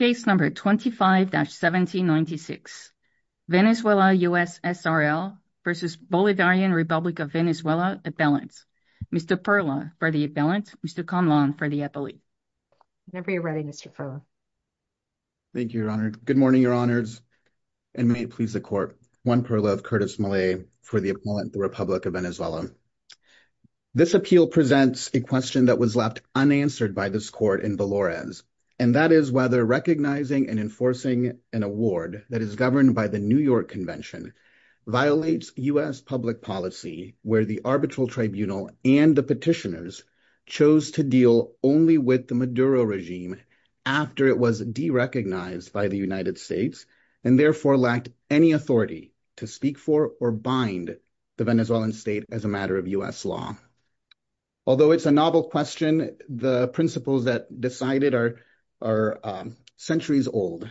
Case number 25-1796. Venezuela US SRL v. Bolivarian Republic of Venezuela Appellant. Mr. Perla for the appellant. Mr. Conlon for the appellate. Whenever you're ready, Mr. Perla. Thank you, Your Honor. Good morning, Your Honors, and may it please the Court. Juan Perla of Curtis Malay for the appellant, the Republic of Venezuela. This appeal presents a question that was left unanswered by this Court in Valores, and that is whether recognizing and enforcing an award that is governed by the New York Convention violates US public policy where the arbitral tribunal and the petitioners chose to deal only with the Maduro regime after it was de-recognized by the United States and therefore lacked any authority to speak for or bind the Venezuelan state as a matter of US law. Although it's a novel question, the principles that decided are centuries old.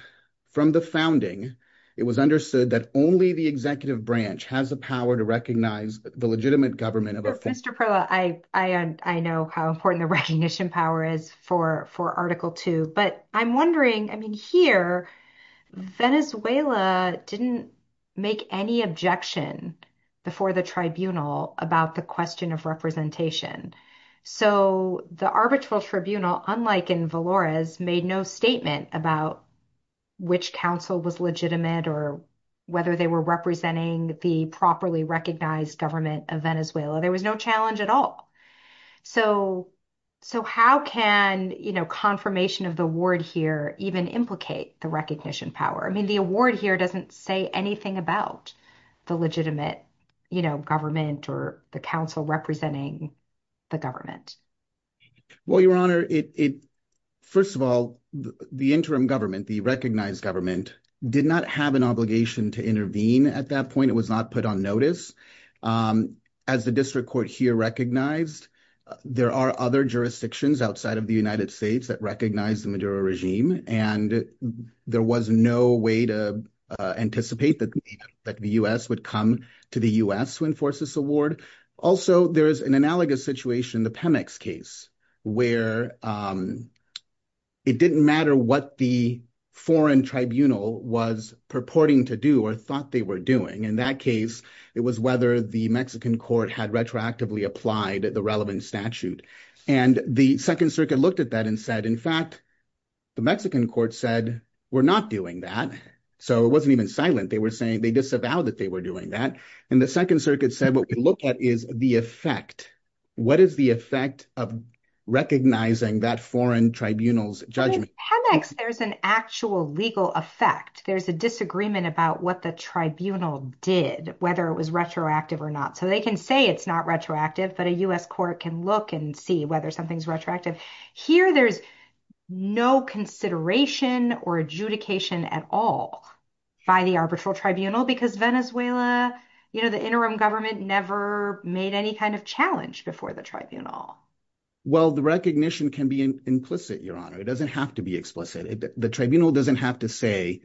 From the founding, it was understood that only the executive branch has the power to recognize the legitimate government of a... Mr. Perla, I know how important the recognition power is for Article 2, but I'm wondering, I mean, here Venezuela didn't make any objection before the tribunal about the question of representation. So the arbitral tribunal, unlike in Valores, made no statement about which council was legitimate or whether they were representing the properly recognized government of Venezuela. There was no challenge at all. So how can, you know, confirmation of the word here even implicate the recognition power? The award here doesn't say anything about the legitimate government or the council representing the government. Well, Your Honor, first of all, the interim government, the recognized government, did not have an obligation to intervene at that point. It was not put on notice. As the district court here recognized, there are other jurisdictions outside of the United States that recognize the Maduro regime, and there was no way to anticipate that the U.S. would come to the U.S. to enforce this award. Also, there is an analogous situation, the Pemex case, where it didn't matter what the foreign tribunal was purporting to do or thought they were doing. In that case, it was whether the Mexican court had retroactively applied the relevant statute. And the Second Circuit looked at that and said, in fact, the Mexican court said we're not doing that. So it wasn't even silent. They were saying they disavowed that they were doing that. And the Second Circuit said what we look at is the effect. What is the effect of recognizing that foreign tribunal's judgment? In Pemex, there's an actual legal effect. There's a disagreement about what the tribunal did, whether it was retroactive or not. So they can say it's not retroactive, but a U.S. court can look and see whether something's retroactive. Here, there's no consideration or adjudication at all by the arbitral tribunal because Venezuela, you know, the interim government never made any kind of challenge before the tribunal. Well, the recognition can be implicit, Your Honor. It doesn't have to be explicit. The tribunal doesn't have to say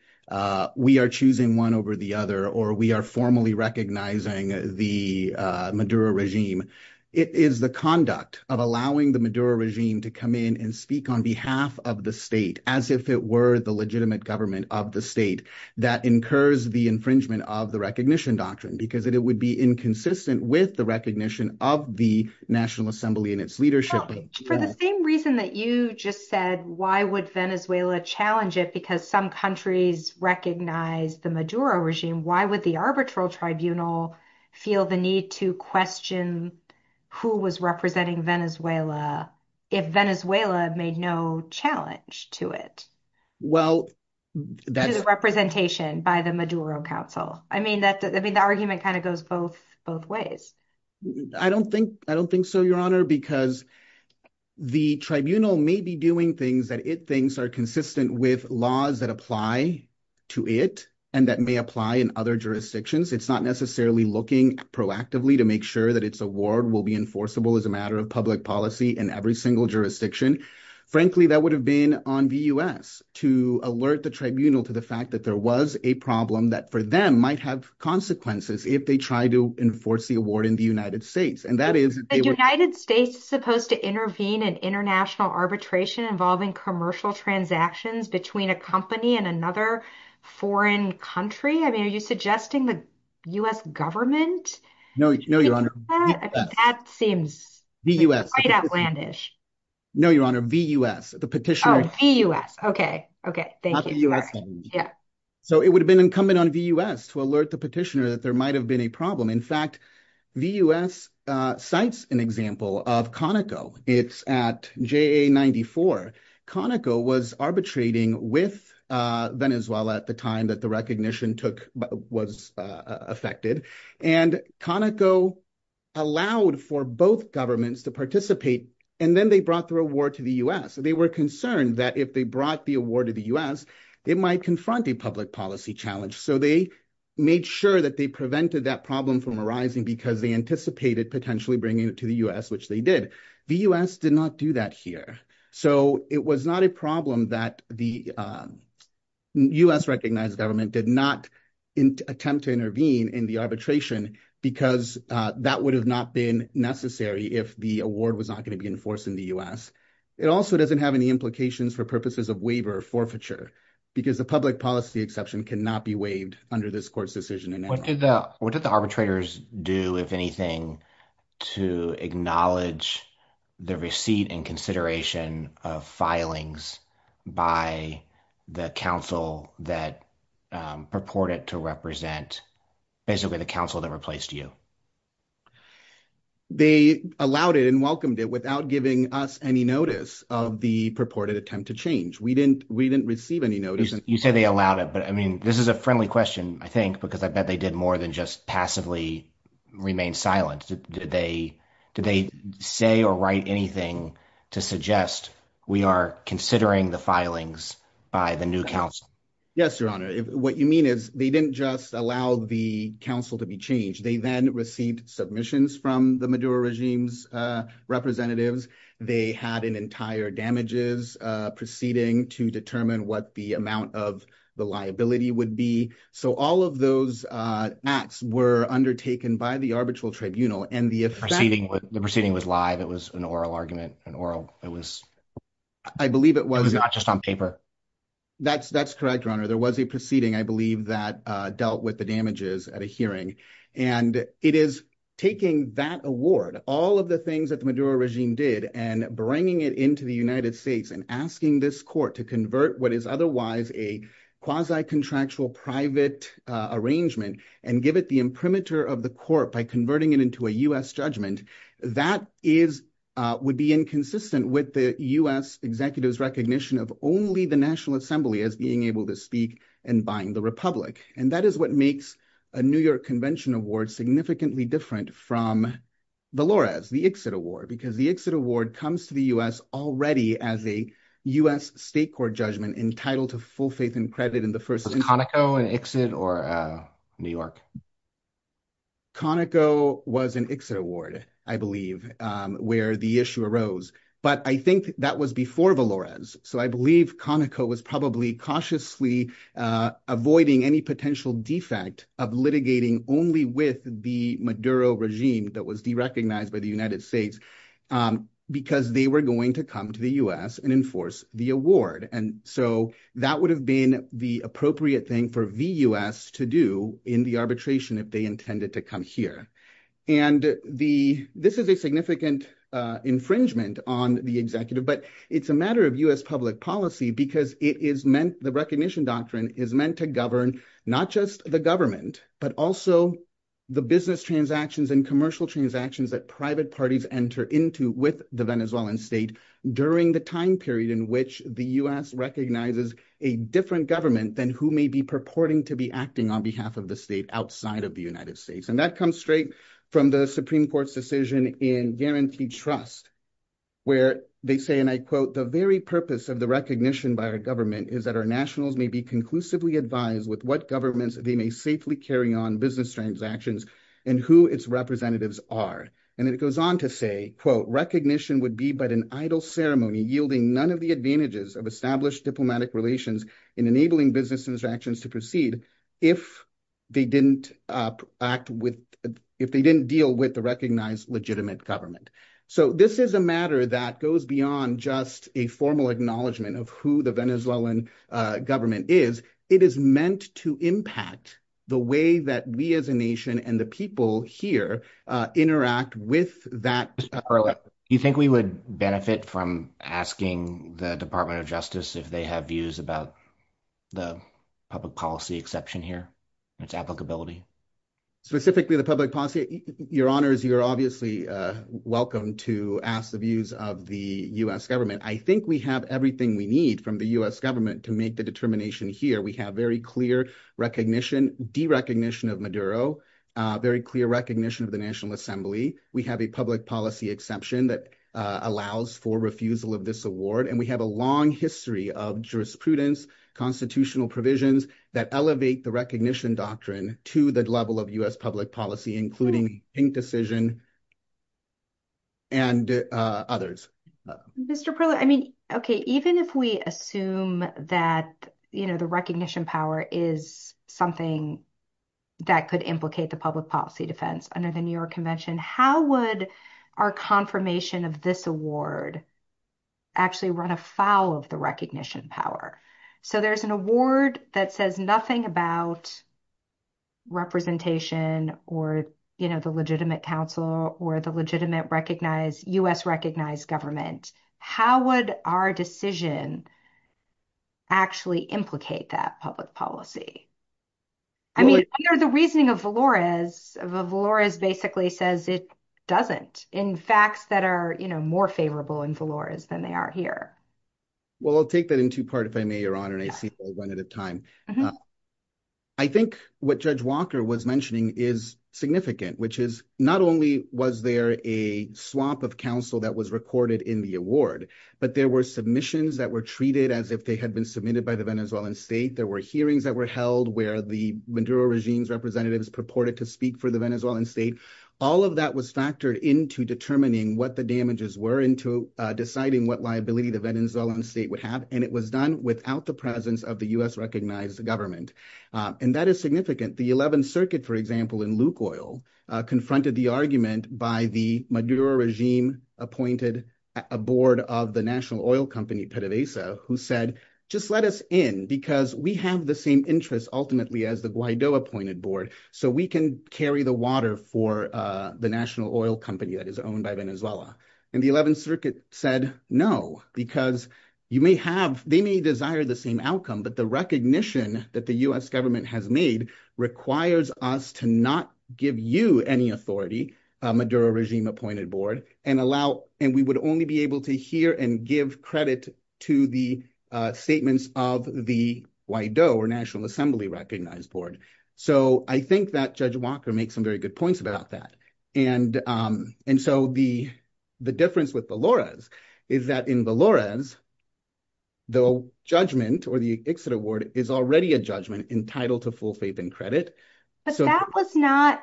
we are choosing one over the other or we are formally recognizing the Maduro regime. It is the conduct of allowing the Maduro regime to come in and speak on behalf of the state as if it were the legitimate government of the state that incurs the infringement of the recognition doctrine because it would be inconsistent with the recognition of the National Assembly and its leadership. For the same reason that you just said, why would Venezuela challenge it? Because some countries recognize the Maduro regime. Why would the arbitral tribunal feel the need to question who was representing Venezuela if Venezuela made no challenge to it? Well, that's a representation by the Maduro council. I mean, that I mean, the argument kind of goes both both ways. I don't think I don't think so, Your Honor, because the tribunal may be doing things that it thinks are consistent with laws that apply to it and that may apply in other jurisdictions. It's not necessarily looking proactively to make sure that its award will be enforceable as a matter of public policy in every single jurisdiction. Frankly, that would have been on the U.S. to alert the tribunal to the fact that there was a problem that for them might have consequences if they try to enforce the award in the United States. And that is the United States is supposed to intervene in international arbitration involving commercial transactions between a company and another foreign country. I mean, are you suggesting the U.S. government? No, no, Your Honor. That seems the U.S. outlandish. No, Your Honor, the U.S. the petitioner. The U.S. OK. OK. Thank you. Yeah. So it would have been incumbent on the U.S. to alert the petitioner that there might have been a problem. In fact, the U.S. cites an example of Conoco. It's at JA94. Conoco was arbitrating with Venezuela at the time that the recognition took was affected. And Conoco allowed for both governments to participate. And then they brought the award to the U.S. They were concerned that if they brought the award to the U.S., it might confront a public policy challenge. So they made sure that they prevented that problem from arising because they anticipated potentially bringing it to the U.S., which they did. The U.S. did not do that here. So it was not a problem that the U.S.-recognized government did not attempt to intervene in the arbitration because that would have not been necessary if the award was not going to be enforced in the U.S. It also doesn't have any implications for purposes of waiver or forfeiture because the public policy exception cannot be waived under this court's decision. What did the arbitrators do, if anything, to acknowledge the receipt and consideration of filings by the counsel that purported to represent basically the counsel that replaced you? They allowed it and welcomed it without giving us any notice of the purported attempt to change. We didn't receive any notice. You said they allowed it, but I mean, this is a friendly question, I think, because I bet they did more than just passively remain silent. Did they say or write anything to suggest we are considering the filings by the new counsel? Yes, Your Honor. What you mean is they didn't just allow the counsel to be changed. They then received submissions from the Maduro regime's representatives. They had an entire damages proceeding to determine what the amount of the liability would be. All of those acts were undertaken by the arbitral tribunal. The proceeding was live. It was an oral argument. I believe it was. It was not just on paper. That's correct, Your Honor. There was a proceeding, I believe, that dealt with the damages at a hearing. It is taking that award, all of the United States, and asking this court to convert what is otherwise a quasi-contractual private arrangement and give it the imprimatur of the court by converting it into a U.S. judgment. That would be inconsistent with the U.S. executive's recognition of only the National Assembly as being able to speak and bind the Republic. That is what makes a New York Convention Award significantly different from the LORAS, the Ixod Award, because the Ixod Award comes to the U.S. already as a U.S. state court judgment entitled to full faith and credit in the first instance. Was Conoco an Ixod or a New York? Conoco was an Ixod Award, I believe, where the issue arose. But I think that was before the LORAS. So I believe Conoco was probably cautiously avoiding any potential defect of litigating only with the Maduro regime that was derecognized by the United States, because they were going to come to the U.S. and enforce the award. And so that would have been the appropriate thing for the U.S. to do in the arbitration if they intended to come here. And this is a significant infringement on the executive, but it's a matter of U.S. public policy because the recognition doctrine is meant to govern not just the government, but also the business transactions and commercial transactions that private parties enter into with the Venezuelan state during the time period in which the U.S. recognizes a different government than who may be purporting to be acting on behalf of the state outside of the United States. And that comes straight from the Supreme Court's decision in Guaranteed Trust, where they say, and I quote, the very purpose of the recognition by our government is that our nationals may be conclusively advised with what governments they may safely carry on business transactions and who its representatives are. And then it goes on to say, quote, recognition would be but an idle ceremony yielding none of the advantages of established diplomatic relations in enabling business interactions to proceed if they didn't deal with the recognized legitimate government. So this is a matter that goes beyond just a formal acknowledgement of who the Venezuelan government is. It is meant to impact the way that we as a nation and the people here interact with that. Do you think we would benefit from asking the Department of Justice if they have views about the public policy exception here, its applicability? Specifically, the public policy. Your Honors, you're obviously welcome to ask the views of the U.S. government. I think we have everything we need from the U.S. government to make the Maduro very clear recognition of the National Assembly. We have a public policy exception that allows for refusal of this award, and we have a long history of jurisprudence, constitutional provisions that elevate the recognition doctrine to the level of U.S. public policy, including ink decision and others. Mr. Perlow, I mean, okay, even if we assume that, you know, the recognition power is something that could implicate the public policy defense under the New York Convention, how would our confirmation of this award actually run afoul of the recognition power? So there's an award that says nothing about representation or, you know, the legitimate counsel or the legitimate recognized U.S. government. How would our decision actually implicate that public policy? I mean, under the reasoning of Valores, Valores basically says it doesn't in facts that are, you know, more favorable in Valores than they are here. Well, I'll take that in two part, if I may, Your Honor, and I see one at a time. I think what Judge Walker was mentioning is significant, which is not only was there a swap of counsel that was recorded in the award, but there were submissions that were treated as if they had been submitted by the Venezuelan state. There were hearings that were held where the Maduro regime's representatives purported to speak for the Venezuelan state. All of that was factored into determining what the damages were into deciding what liability the Venezuelan state would have, and it was done without the presence of the U.S. recognized government. And that is The 11th Circuit, for example, in Luke Oil, confronted the argument by the Maduro regime appointed a board of the national oil company, PDVSA, who said, just let us in because we have the same interests ultimately as the Guaido appointed board, so we can carry the water for the national oil company that is owned by Venezuela. And the 11th Circuit said, no, because you may have, they may desire the same outcome, but the recognition that the U.S. government has made requires us to not give you any authority, Maduro regime appointed board, and allow, and we would only be able to hear and give credit to the statements of the Guaido or National Assembly recognized board. So I think that Judge Walker makes some very good points about that. And, and so the, the difference with the Valores is that in Valores, the judgment or the ICSID award is already a judgment entitled to full faith and credit. But that was not,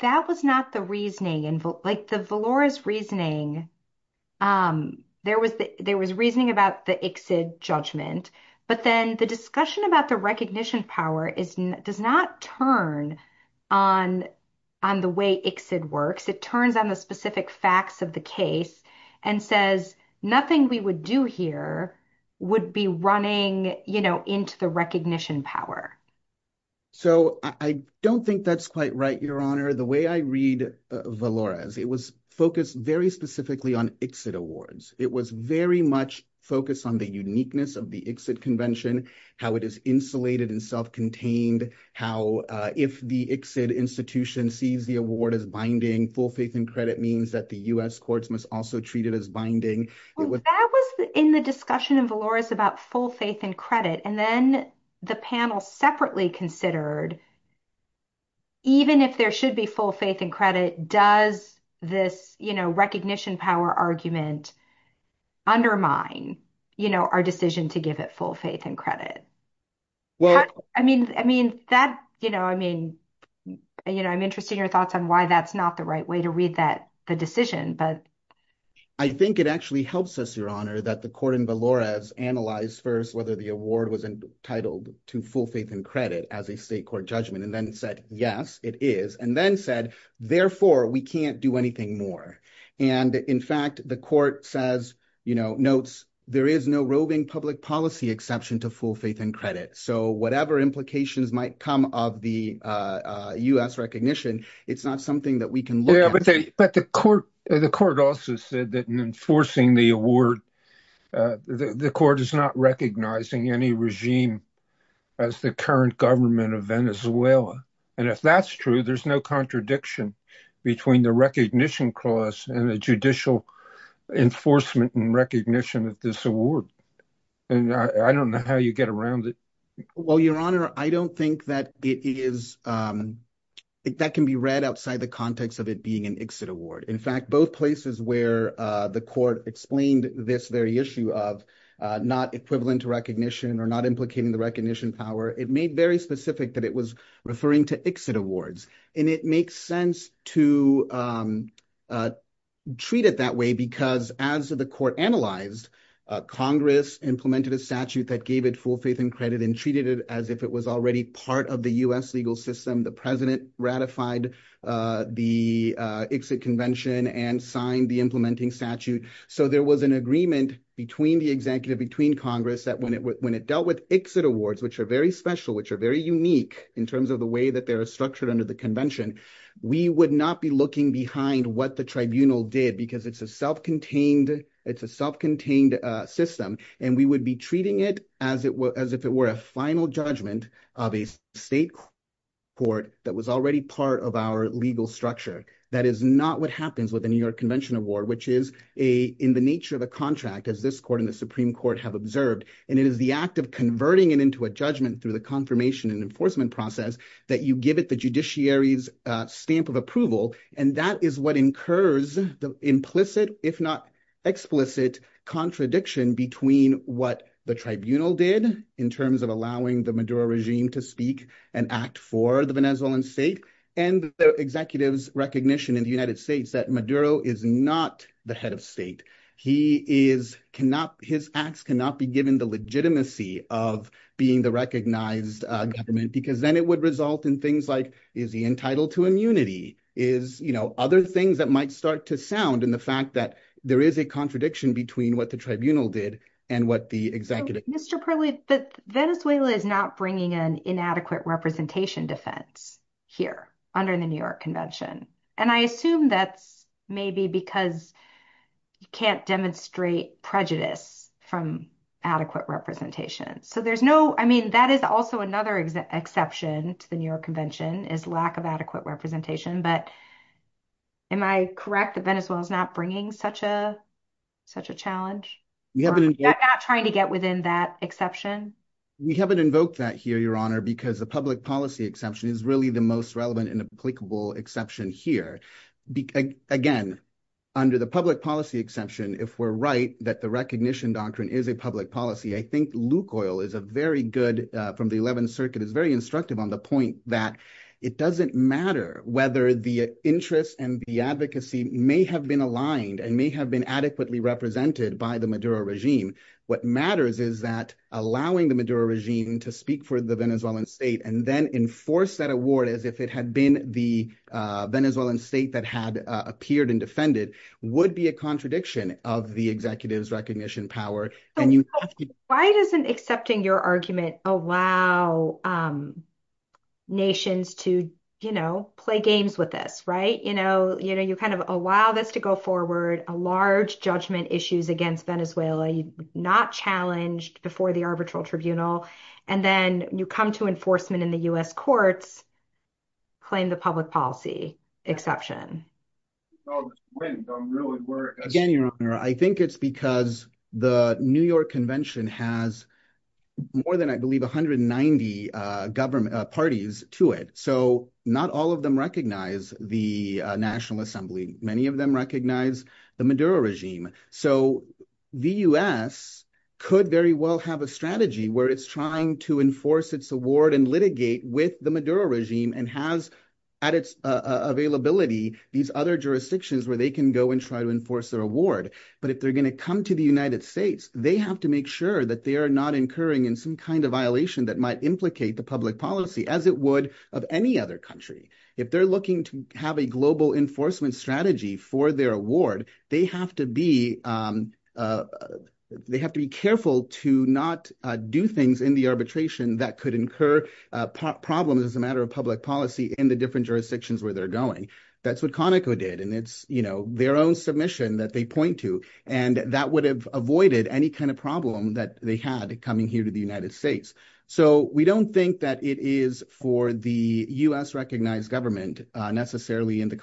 that was not the reasoning, and like the Valores reasoning, there was, there was reasoning about the ICSID judgment, but then the discussion about the recognition power is, does not turn on, on the way ICSID works. It turns on the specific facts of the case and says, nothing we would do here would be running, you know, into the recognition power. So I don't think that's quite right, Your Honor. The way I read Valores, it was focused very specifically on ICSID awards. It was very much focused on the uniqueness of the ICSID convention, how it is insulated and self-contained, how if the ICSID institution sees the award as binding, full faith and credit means that the U.S. courts must also treat it as binding. That was in the discussion of Valores about full faith and credit. And then the panel separately considered, even if there should be full faith and credit, does this, you know, recognition power argument undermine, you know, our decision to give it full faith and credit? Well, I mean, I mean that, you know, I mean, you know, I'm interested in your thoughts on why that's not the right way to read that, the decision, but. I think it actually helps us, Your Honor, that the court in Valores analyzed first, whether the award was entitled to full faith and credit as a state court judgment and then said, yes, it is. And then said, therefore we can't do anything more. And in fact, the court says, you know, notes, there is no roving public policy exception to full faith and credit. So whatever implications might come of the U.S. recognition, it's not something that we can look at. But the court also said that in enforcing the award, the court is not recognizing any regime as the current government of Venezuela. And if that's true, there's no contradiction between the recognition clause and the judicial enforcement and recognition of this award. And I don't know how you get around it. Well, Your Honor, I don't think that it is, that can be read outside the context of it being an exit award. In fact, both places where the court explained this very issue of not equivalent to recognition or not implicating the recognition power, it made very specific that it was referring to exit awards. And it makes sense to treat it that way because as the court analyzed, Congress implemented a statute that gave it full faith and credit and treated it as if it was already part of the U.S. legal system. The president ratified the exit convention and signed the implementing statute. So there was an agreement between the executive, between Congress that when it dealt with exit awards, which are very special, which are very unique in terms of the way that they're structured under the convention, we would not be looking behind what the tribunal did because it's a self-contained system. And we would be treating it as if it were a final judgment of a state court that was already part of our legal structure. That is not what happens with the New York Convention Award, which is in the nature of a contract as this court and the Supreme Court have observed. And it is the act of converting it into a judgment through the confirmation and enforcement process that you give it the incurs the implicit, if not explicit contradiction between what the tribunal did in terms of allowing the Maduro regime to speak and act for the Venezuelan state and the executive's recognition in the United States that Maduro is not the head of state. His acts cannot be given the legitimacy of being the recognized government because then it would result in things like, is he entitled to immunity? Is, you know, other things that might start to sound in the fact that there is a contradiction between what the tribunal did and what the executive. Mr. Perley, Venezuela is not bringing an inadequate representation defense here under the New York Convention. And I assume that's maybe because you can't demonstrate prejudice from adequate representation. So there's no, I mean, that is also another exception to the New York Convention is lack of adequate representation. But am I correct that Venezuela is not bringing such a challenge? We're not trying to get within that exception? We haven't invoked that here, Your Honor, because the public policy exception is really the most relevant and applicable exception here. Again, under the public policy exception, if we're right, that the recognition doctrine is a public policy, I think Luke Oil is a very good, from the 11th Circuit, is very instructive on the point that it doesn't matter whether the interests and the advocacy may have been aligned and may have been adequately represented by the Maduro regime. What matters is that allowing the Maduro regime to speak for the Venezuelan state and then enforce that award as if it had been the Venezuelan state that had appeared and defended would be a contradiction of the executive's recognition power. Why doesn't accepting your argument allow nations to, you know, play games with this, right? You know, you kind of allow this to go forward, a large judgment issues against Venezuela, not challenged before the arbitral tribunal, and then you come to enforcement in the U.S. courts, claim the public policy exception. Again, Your Honor, I think it's because the New York Convention has more than, I believe, 190 government parties to it. So not all of them recognize the National Assembly. Many of them recognize the Maduro regime. So the U.S. could very well have a strategy where it's trying to enforce its award and litigate with the Maduro regime and has, at its availability, these other jurisdictions where they can go and try to enforce their award. But if they're going to come to the United States, they have to make sure that they are not incurring in some kind of violation that might implicate the public policy as it would of any other country. If they're looking to have a global enforcement strategy for their award, they have to be careful to not do things in the arbitration that could incur problems as a matter of public policy in the different jurisdictions where they're going. That's what Conoco did, and it's, you know, their own submission that they point to, and that would have avoided any kind of problem that they had coming here to the United States. So we don't think that it is for the U.S.-recognized government, necessarily in the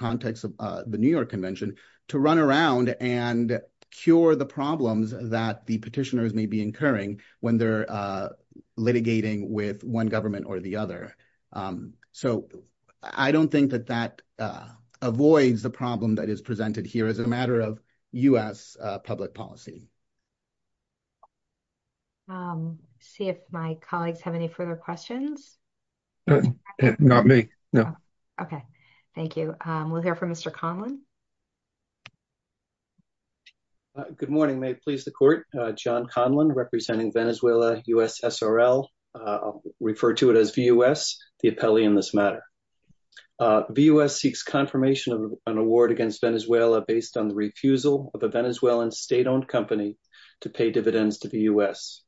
and cure the problems that the petitioners may be incurring when they're litigating with one government or the other. So I don't think that that avoids the problem that is presented here as a matter of U.S. public policy. See if my colleagues have any further questions. Not me, no. Okay, thank you. We'll hear from Mr. Conlon. Good morning. May it please the Court. John Conlon, representing Venezuela, U.S. SRL. Refer to it as VUS, the appellee in this matter. VUS seeks confirmation of an award against Venezuela based on the refusal of a Venezuelan state-owned company to pay dividends to the U.S.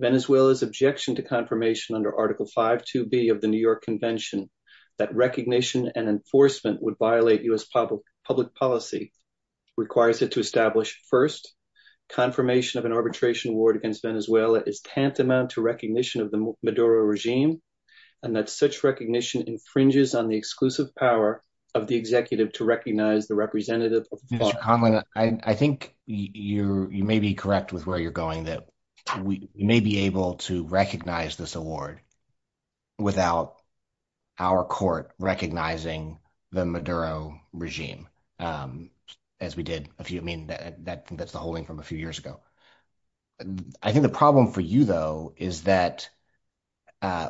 Venezuela's objection to confirmation under Article 5.2b of the New York Convention that recognition and enforcement would violate U.S. public policy. Requires it to establish, first, confirmation of an arbitration award against Venezuela is tantamount to recognition of the Maduro regime and that such recognition infringes on the exclusive power of the executive to recognize the representative. Mr. Conlon, I think you may be correct with where you're going, that we may be able to recognize this award without our Court recognizing the Maduro regime as we did. I mean, that's the holding from a few years ago. I think the problem for you, though, is that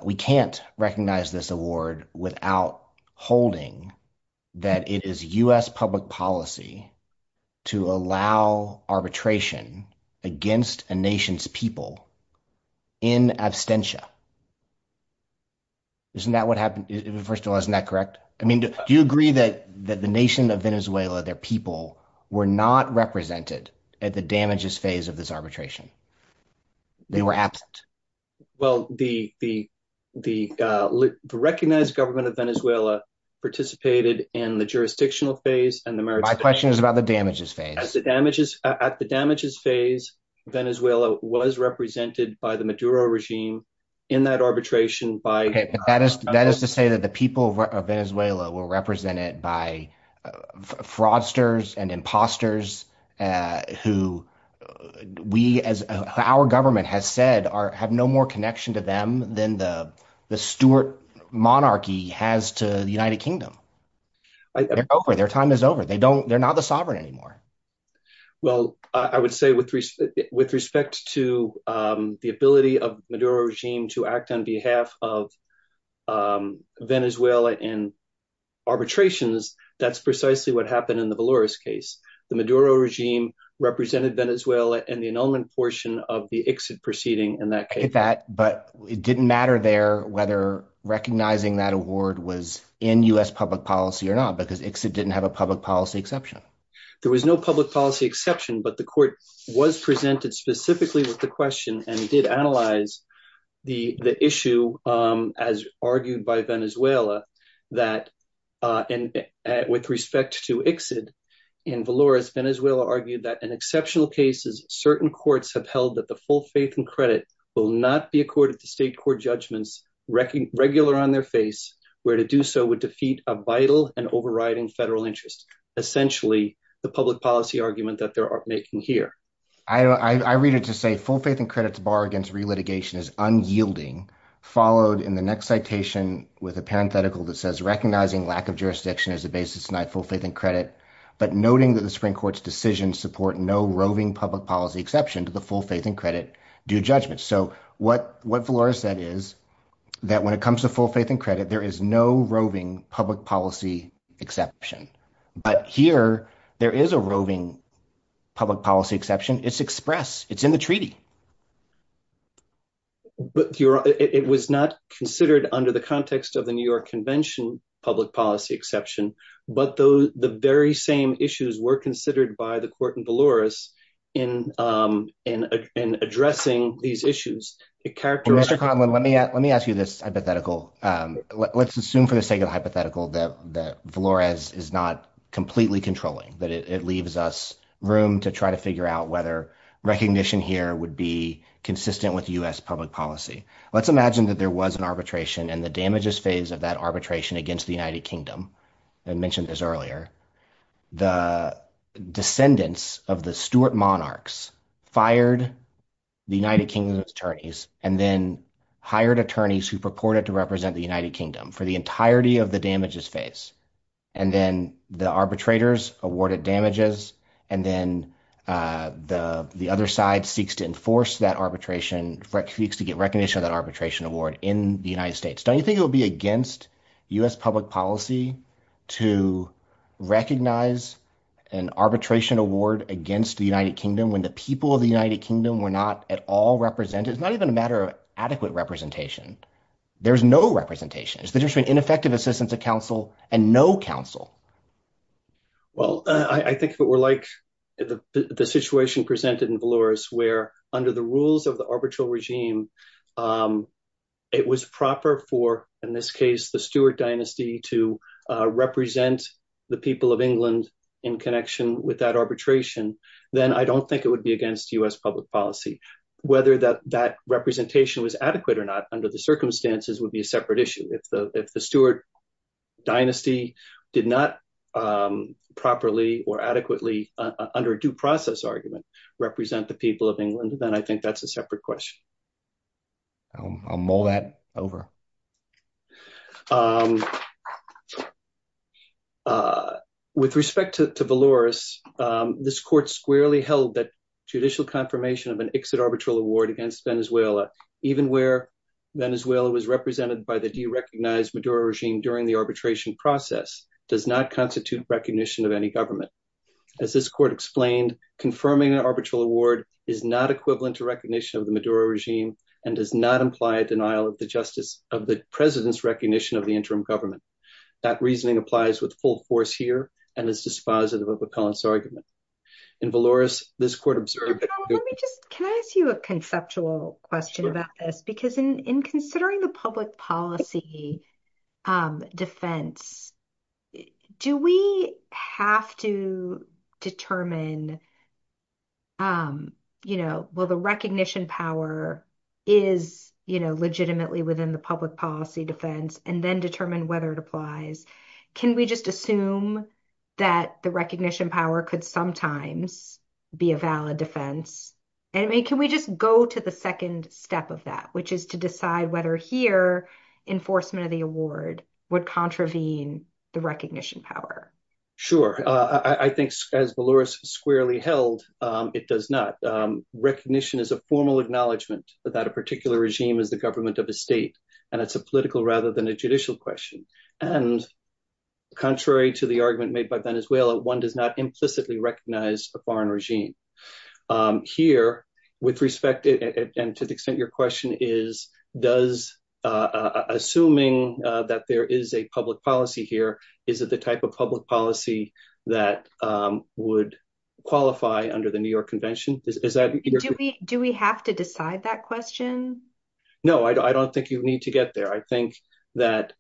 we can't recognize this award without holding that it is U.S. public policy to allow arbitration against a nation's people in absentia. Isn't that what happened? First of all, isn't that correct? I mean, do you agree that the nation of Venezuela, their people, were not represented at the damages phase of this arbitration? They were absent. Well, the recognized government of Venezuela participated in the jurisdictional phase. My question is about the damages phase. At the damages phase, Venezuela was represented by the Maduro regime in that arbitration. That is to say that the people of Venezuela were represented by fraudsters and imposters who we, as our government has said, have no more connection to them than the Stuart monarchy has to the United Kingdom. Their time is over. They're not the sovereign anymore. Well, I would say with respect to the ability of the Maduro regime to act on behalf of Venezuela in arbitrations, that's precisely what happened in the Valores case. The Maduro regime represented Venezuela in the annulment portion of the exit proceeding in that but it didn't matter there whether recognizing that award was in U.S. public policy or not because exit didn't have a public policy exception. There was no public policy exception but the court was presented specifically with the question and did analyze the issue as argued by Venezuela that with respect to exit in Valores, Venezuela argued that in exceptional cases, certain courts have held that the full faith and credit will not be accorded to state court judgments, regular on their face, where to do so would defeat a vital and overriding federal interest. Essentially, the public policy argument that they're making here. I read it to say full faith and credits bar against re-litigation is unyielding followed in the next citation with a parenthetical that says recognizing lack of jurisdiction as a basis to deny full faith and but noting that the Supreme Court's decision support no roving public policy exception to the full faith and credit due judgment. So what Valores said is that when it comes to full faith and credit, there is no roving public policy exception but here there is a roving public policy exception. It's expressed. It's in the treaty. But it was not considered under the context of the New York Convention public policy exception, but the very same issues were considered by the court in Valores in addressing these issues. Mr. Conlon, let me ask you this hypothetical. Let's assume for the sake of hypothetical that Valores is not completely controlling, that it leaves us room to try to figure out whether recognition here would be consistent with U.S. public policy. Let's imagine that there was an arbitration and the damages phase of that arbitration against the United Kingdom. I mentioned this earlier. The descendants of the Stuart monarchs fired the United Kingdom's attorneys and then hired attorneys who purported to represent the United Kingdom for the entirety of the damages phase and then the arbitrators awarded damages and then the other side seeks to enforce that arbitration, seeks to get recognition of that arbitration award in the United States. Don't you think it will be against U.S. public policy to recognize an arbitration award against the United Kingdom when the people of the United Kingdom were not at all represented? It's not even a matter of adequate representation. There's no representation. It's the difference between ineffective assistance of counsel and no counsel. Well, I think if it were like the situation presented in Valores where under the rules of the arbitral regime, it was proper for, in this case, the Stuart dynasty to represent the people of England in connection with that arbitration, then I don't think it would be against U.S. public policy. Whether that representation was adequate or not under the circumstances would be a separate issue. If the Stuart dynasty did not properly or adequately under due process argument represent the people of England, then I think that's a separate question. I'll mull that over. With respect to Valores, this court squarely held that judicial confirmation of an exit award against Venezuela, even where Venezuela was represented by the derecognized Maduro regime during the arbitration process, does not constitute recognition of any government. As this court explained, confirming an arbitral award is not equivalent to recognition of the Maduro regime and does not imply a denial of the president's recognition of the interim government. That reasoning applies with full force here and is dispositive of a Collins argument. And Valores, this court observed. Can I ask you a conceptual question about this? Because in considering the public policy defense, do we have to determine, you know, will the recognition power is, you know, legitimately within the public policy defense and then determine whether it applies? Can we just assume that the recognition power could sometimes be a valid defense? And can we just go to the second step of that, which is to decide whether here enforcement of the award would contravene the recognition power? Sure. I think as Valores squarely held, it does not. Recognition is a formal acknowledgement that a particular regime is the government of a state and it's a political rather than a judicial question. And contrary to the argument made by Venezuela, one does not implicitly recognize a foreign regime here with respect. And to the extent your question is, does assuming that there is a public policy here, is it the type of public policy that would qualify under the New York convention? Do we have to decide that question? No, I don't think you need to get there. I think that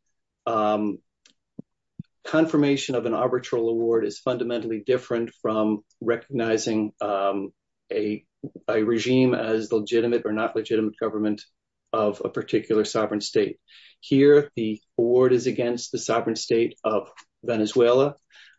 confirmation of an arbitral award is fundamentally different from recognizing a regime as legitimate or not legitimate government of a particular sovereign state. Here, the award is against the sovereign state of Venezuela.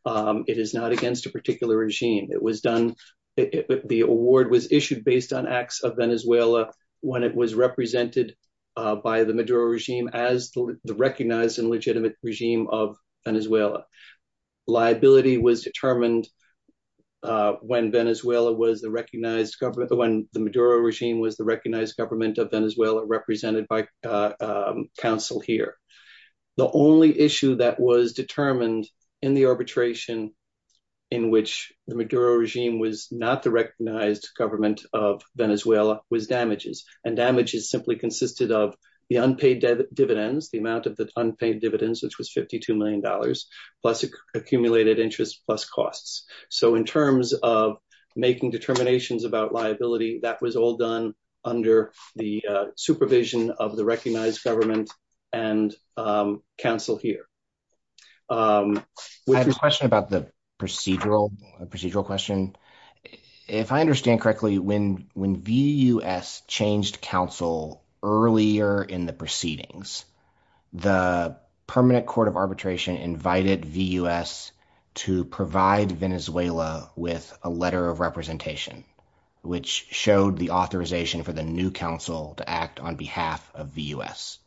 It is not against a particular regime. It was done, the award was issued based on acts of arbitration that was represented by the Maduro regime as the recognized and legitimate regime of Venezuela. Liability was determined when the Maduro regime was the recognized government of Venezuela represented by council here. The only issue that was determined in the arbitration in which the Maduro regime was not the recognized government of Venezuela was damages. And damages simply consisted of the unpaid dividends, the amount of the unpaid dividends, which was $52 million plus accumulated interest plus costs. So in terms of making determinations about liability, that was all done under the supervision of the recognized government and council here. I have a question about the procedural question. If I understand correctly, when VUS changed council earlier in the proceedings, the permanent court of arbitration invited VUS to provide Venezuela with a letter of representation, which showed the authorization for the new council to act on behalf of VUS.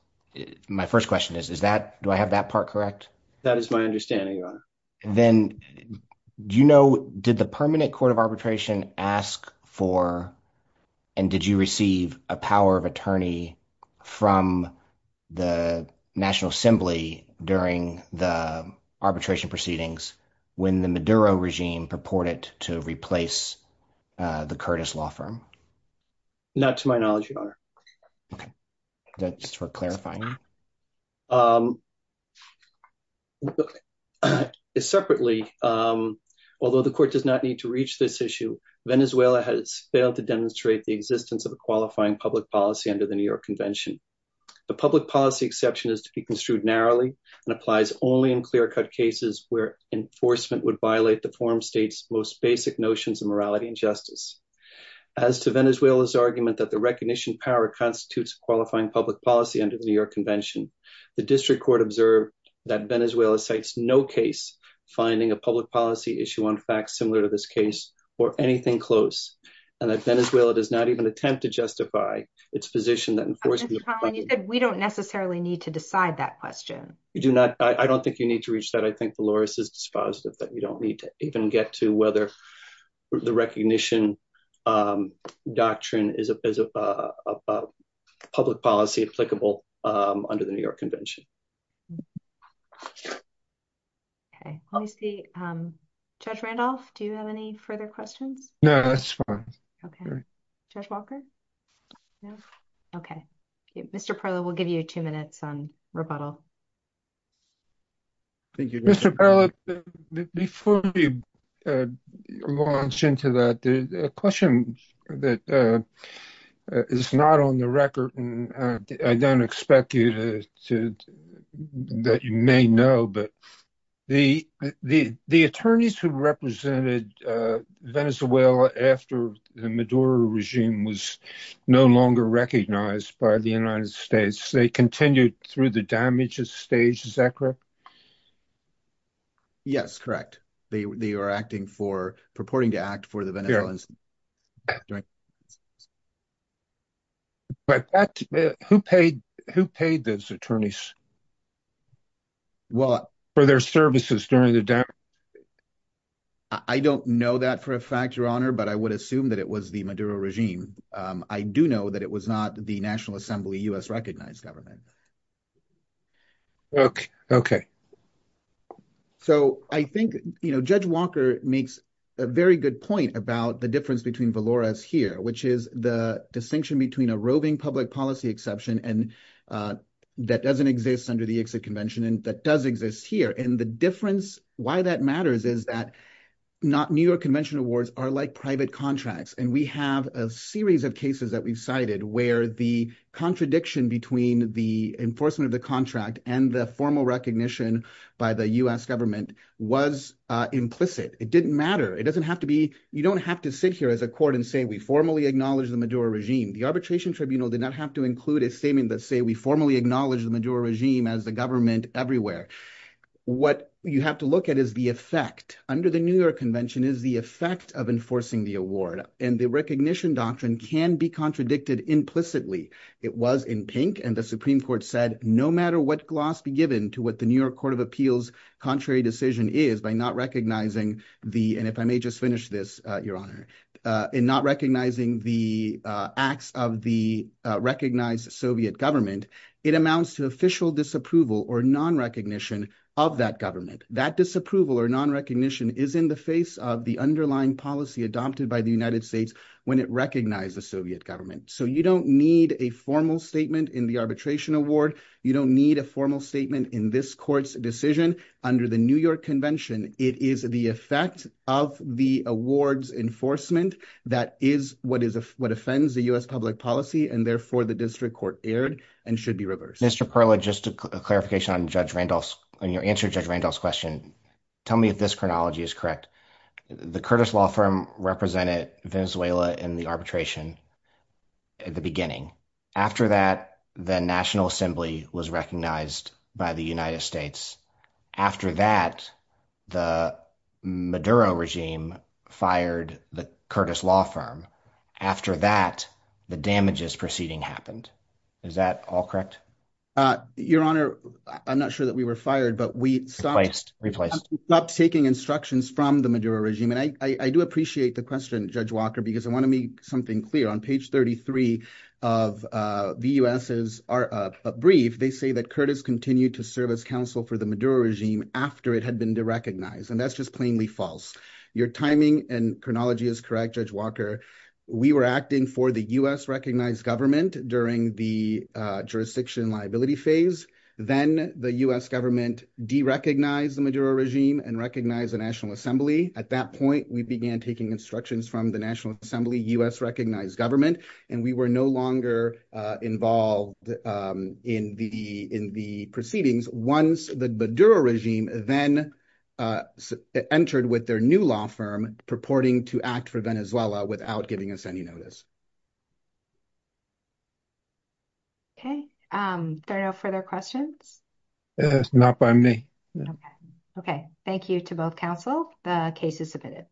My first question is, do I have that part correct? That is my understanding, Your Honor. Did the permanent court of arbitration ask for and did you receive a power of attorney from the national assembly during the arbitration proceedings when the Maduro regime purported to replace the Curtis law firm? Not to my knowledge, Your Honor. Okay, that's for clarifying. Separately, although the court does not need to reach this issue, Venezuela has failed to demonstrate the existence of a qualifying public policy under the New York convention. The public policy exception is to be construed narrowly and applies only in clear-cut cases where enforcement would violate the foreign state's most basic notions of morality and justice. As to Venezuela's argument that the recognition power constitutes a qualifying public policy under the New York convention, the district court observed that Venezuela cites no case finding a public policy issue on facts similar to this case or anything close, and that Venezuela does not even attempt to justify its position that enforcement... You said we don't necessarily need to decide that question. You do not. I don't think you need to reach that. I think the lawyer says it's positive that you don't need to even get to whether the recognition doctrine is a public policy applicable under the New York convention. Okay, let me see. Judge Randolph, do you have any further questions? No, that's fine. Okay. Judge Walker? No. Okay. Mr. Parlow, we'll give you two minutes on rebuttal. Thank you. Mr. Parlow, before you launch into that, there's a question that is not on the record, and I don't expect you to... that you may know, but the attorneys who represented Venezuela after the Maduro regime was no longer recognized by the United States, they continued through the damages stage, is that correct? Yes, correct. They are acting for... purporting to act for the Venezuelans. But who paid those attorneys? Well... For their services during the... I don't know that for a fact, Your Honor, but I would assume that it was the Maduro regime. I do know that it was not the National Assembly U.S. recognized government. Okay. Okay. So, I think, you know, Judge Walker makes a very good point about the difference between Valores here, which is the distinction between a roving public policy exception and that doesn't exist under the exit convention, and that does exist here. And the difference, why that matters is that not New York convention awards are like private contracts. And we have a series of cases that we've cited where the contradiction between the enforcement of the contract and the formal recognition by the U.S. government was implicit. It didn't matter. It doesn't have to be... you don't have to sit here as a court and say, we formally acknowledge the Maduro regime as the government everywhere. What you have to look at is the effect. Under the New York convention is the effect of enforcing the award. And the recognition doctrine can be contradicted implicitly. It was in pink and the Supreme Court said, no matter what gloss be given to what the New York Court of Appeals' contrary decision is by not recognizing the... and if I it amounts to official disapproval or non-recognition of that government. That disapproval or non-recognition is in the face of the underlying policy adopted by the United States when it recognized the Soviet government. So you don't need a formal statement in the arbitration award. You don't need a formal statement in this court's decision under the New York convention. It is the effect of the awards enforcement that is what offends the U.S. public policy. And should be reversed. Mr. Perla, just a clarification on Judge Randolph's... on your answer to Judge Randolph's question. Tell me if this chronology is correct. The Curtis law firm represented Venezuela in the arbitration at the beginning. After that, the national assembly was recognized by the United States. After that, the Maduro regime fired the Curtis law firm. After that, the damages proceeding happened. Is that all correct? Your Honor, I'm not sure that we were fired, but we stopped taking instructions from the Maduro regime. And I do appreciate the question, Judge Walker, because I want to make something clear. On page 33 of the U.S.'s brief, they say that Curtis continued to serve as counsel for the Maduro regime after it had been recognized. And that's just plainly false. Your timing and chronology is correct, Judge Walker. We were acting for the U.S.-recognized government during the jurisdiction liability phase. Then the U.S. government derecognized the Maduro regime and recognized the national assembly. At that point, we began taking instructions from the national assembly, U.S.-recognized government, and we were no longer involved in the proceedings once the Maduro regime then entered with their new law purporting to act for Venezuela without giving us any notice. Okay. Are there no further questions? Yes, not by me. Okay. Thank you to both counsel. The case is submitted.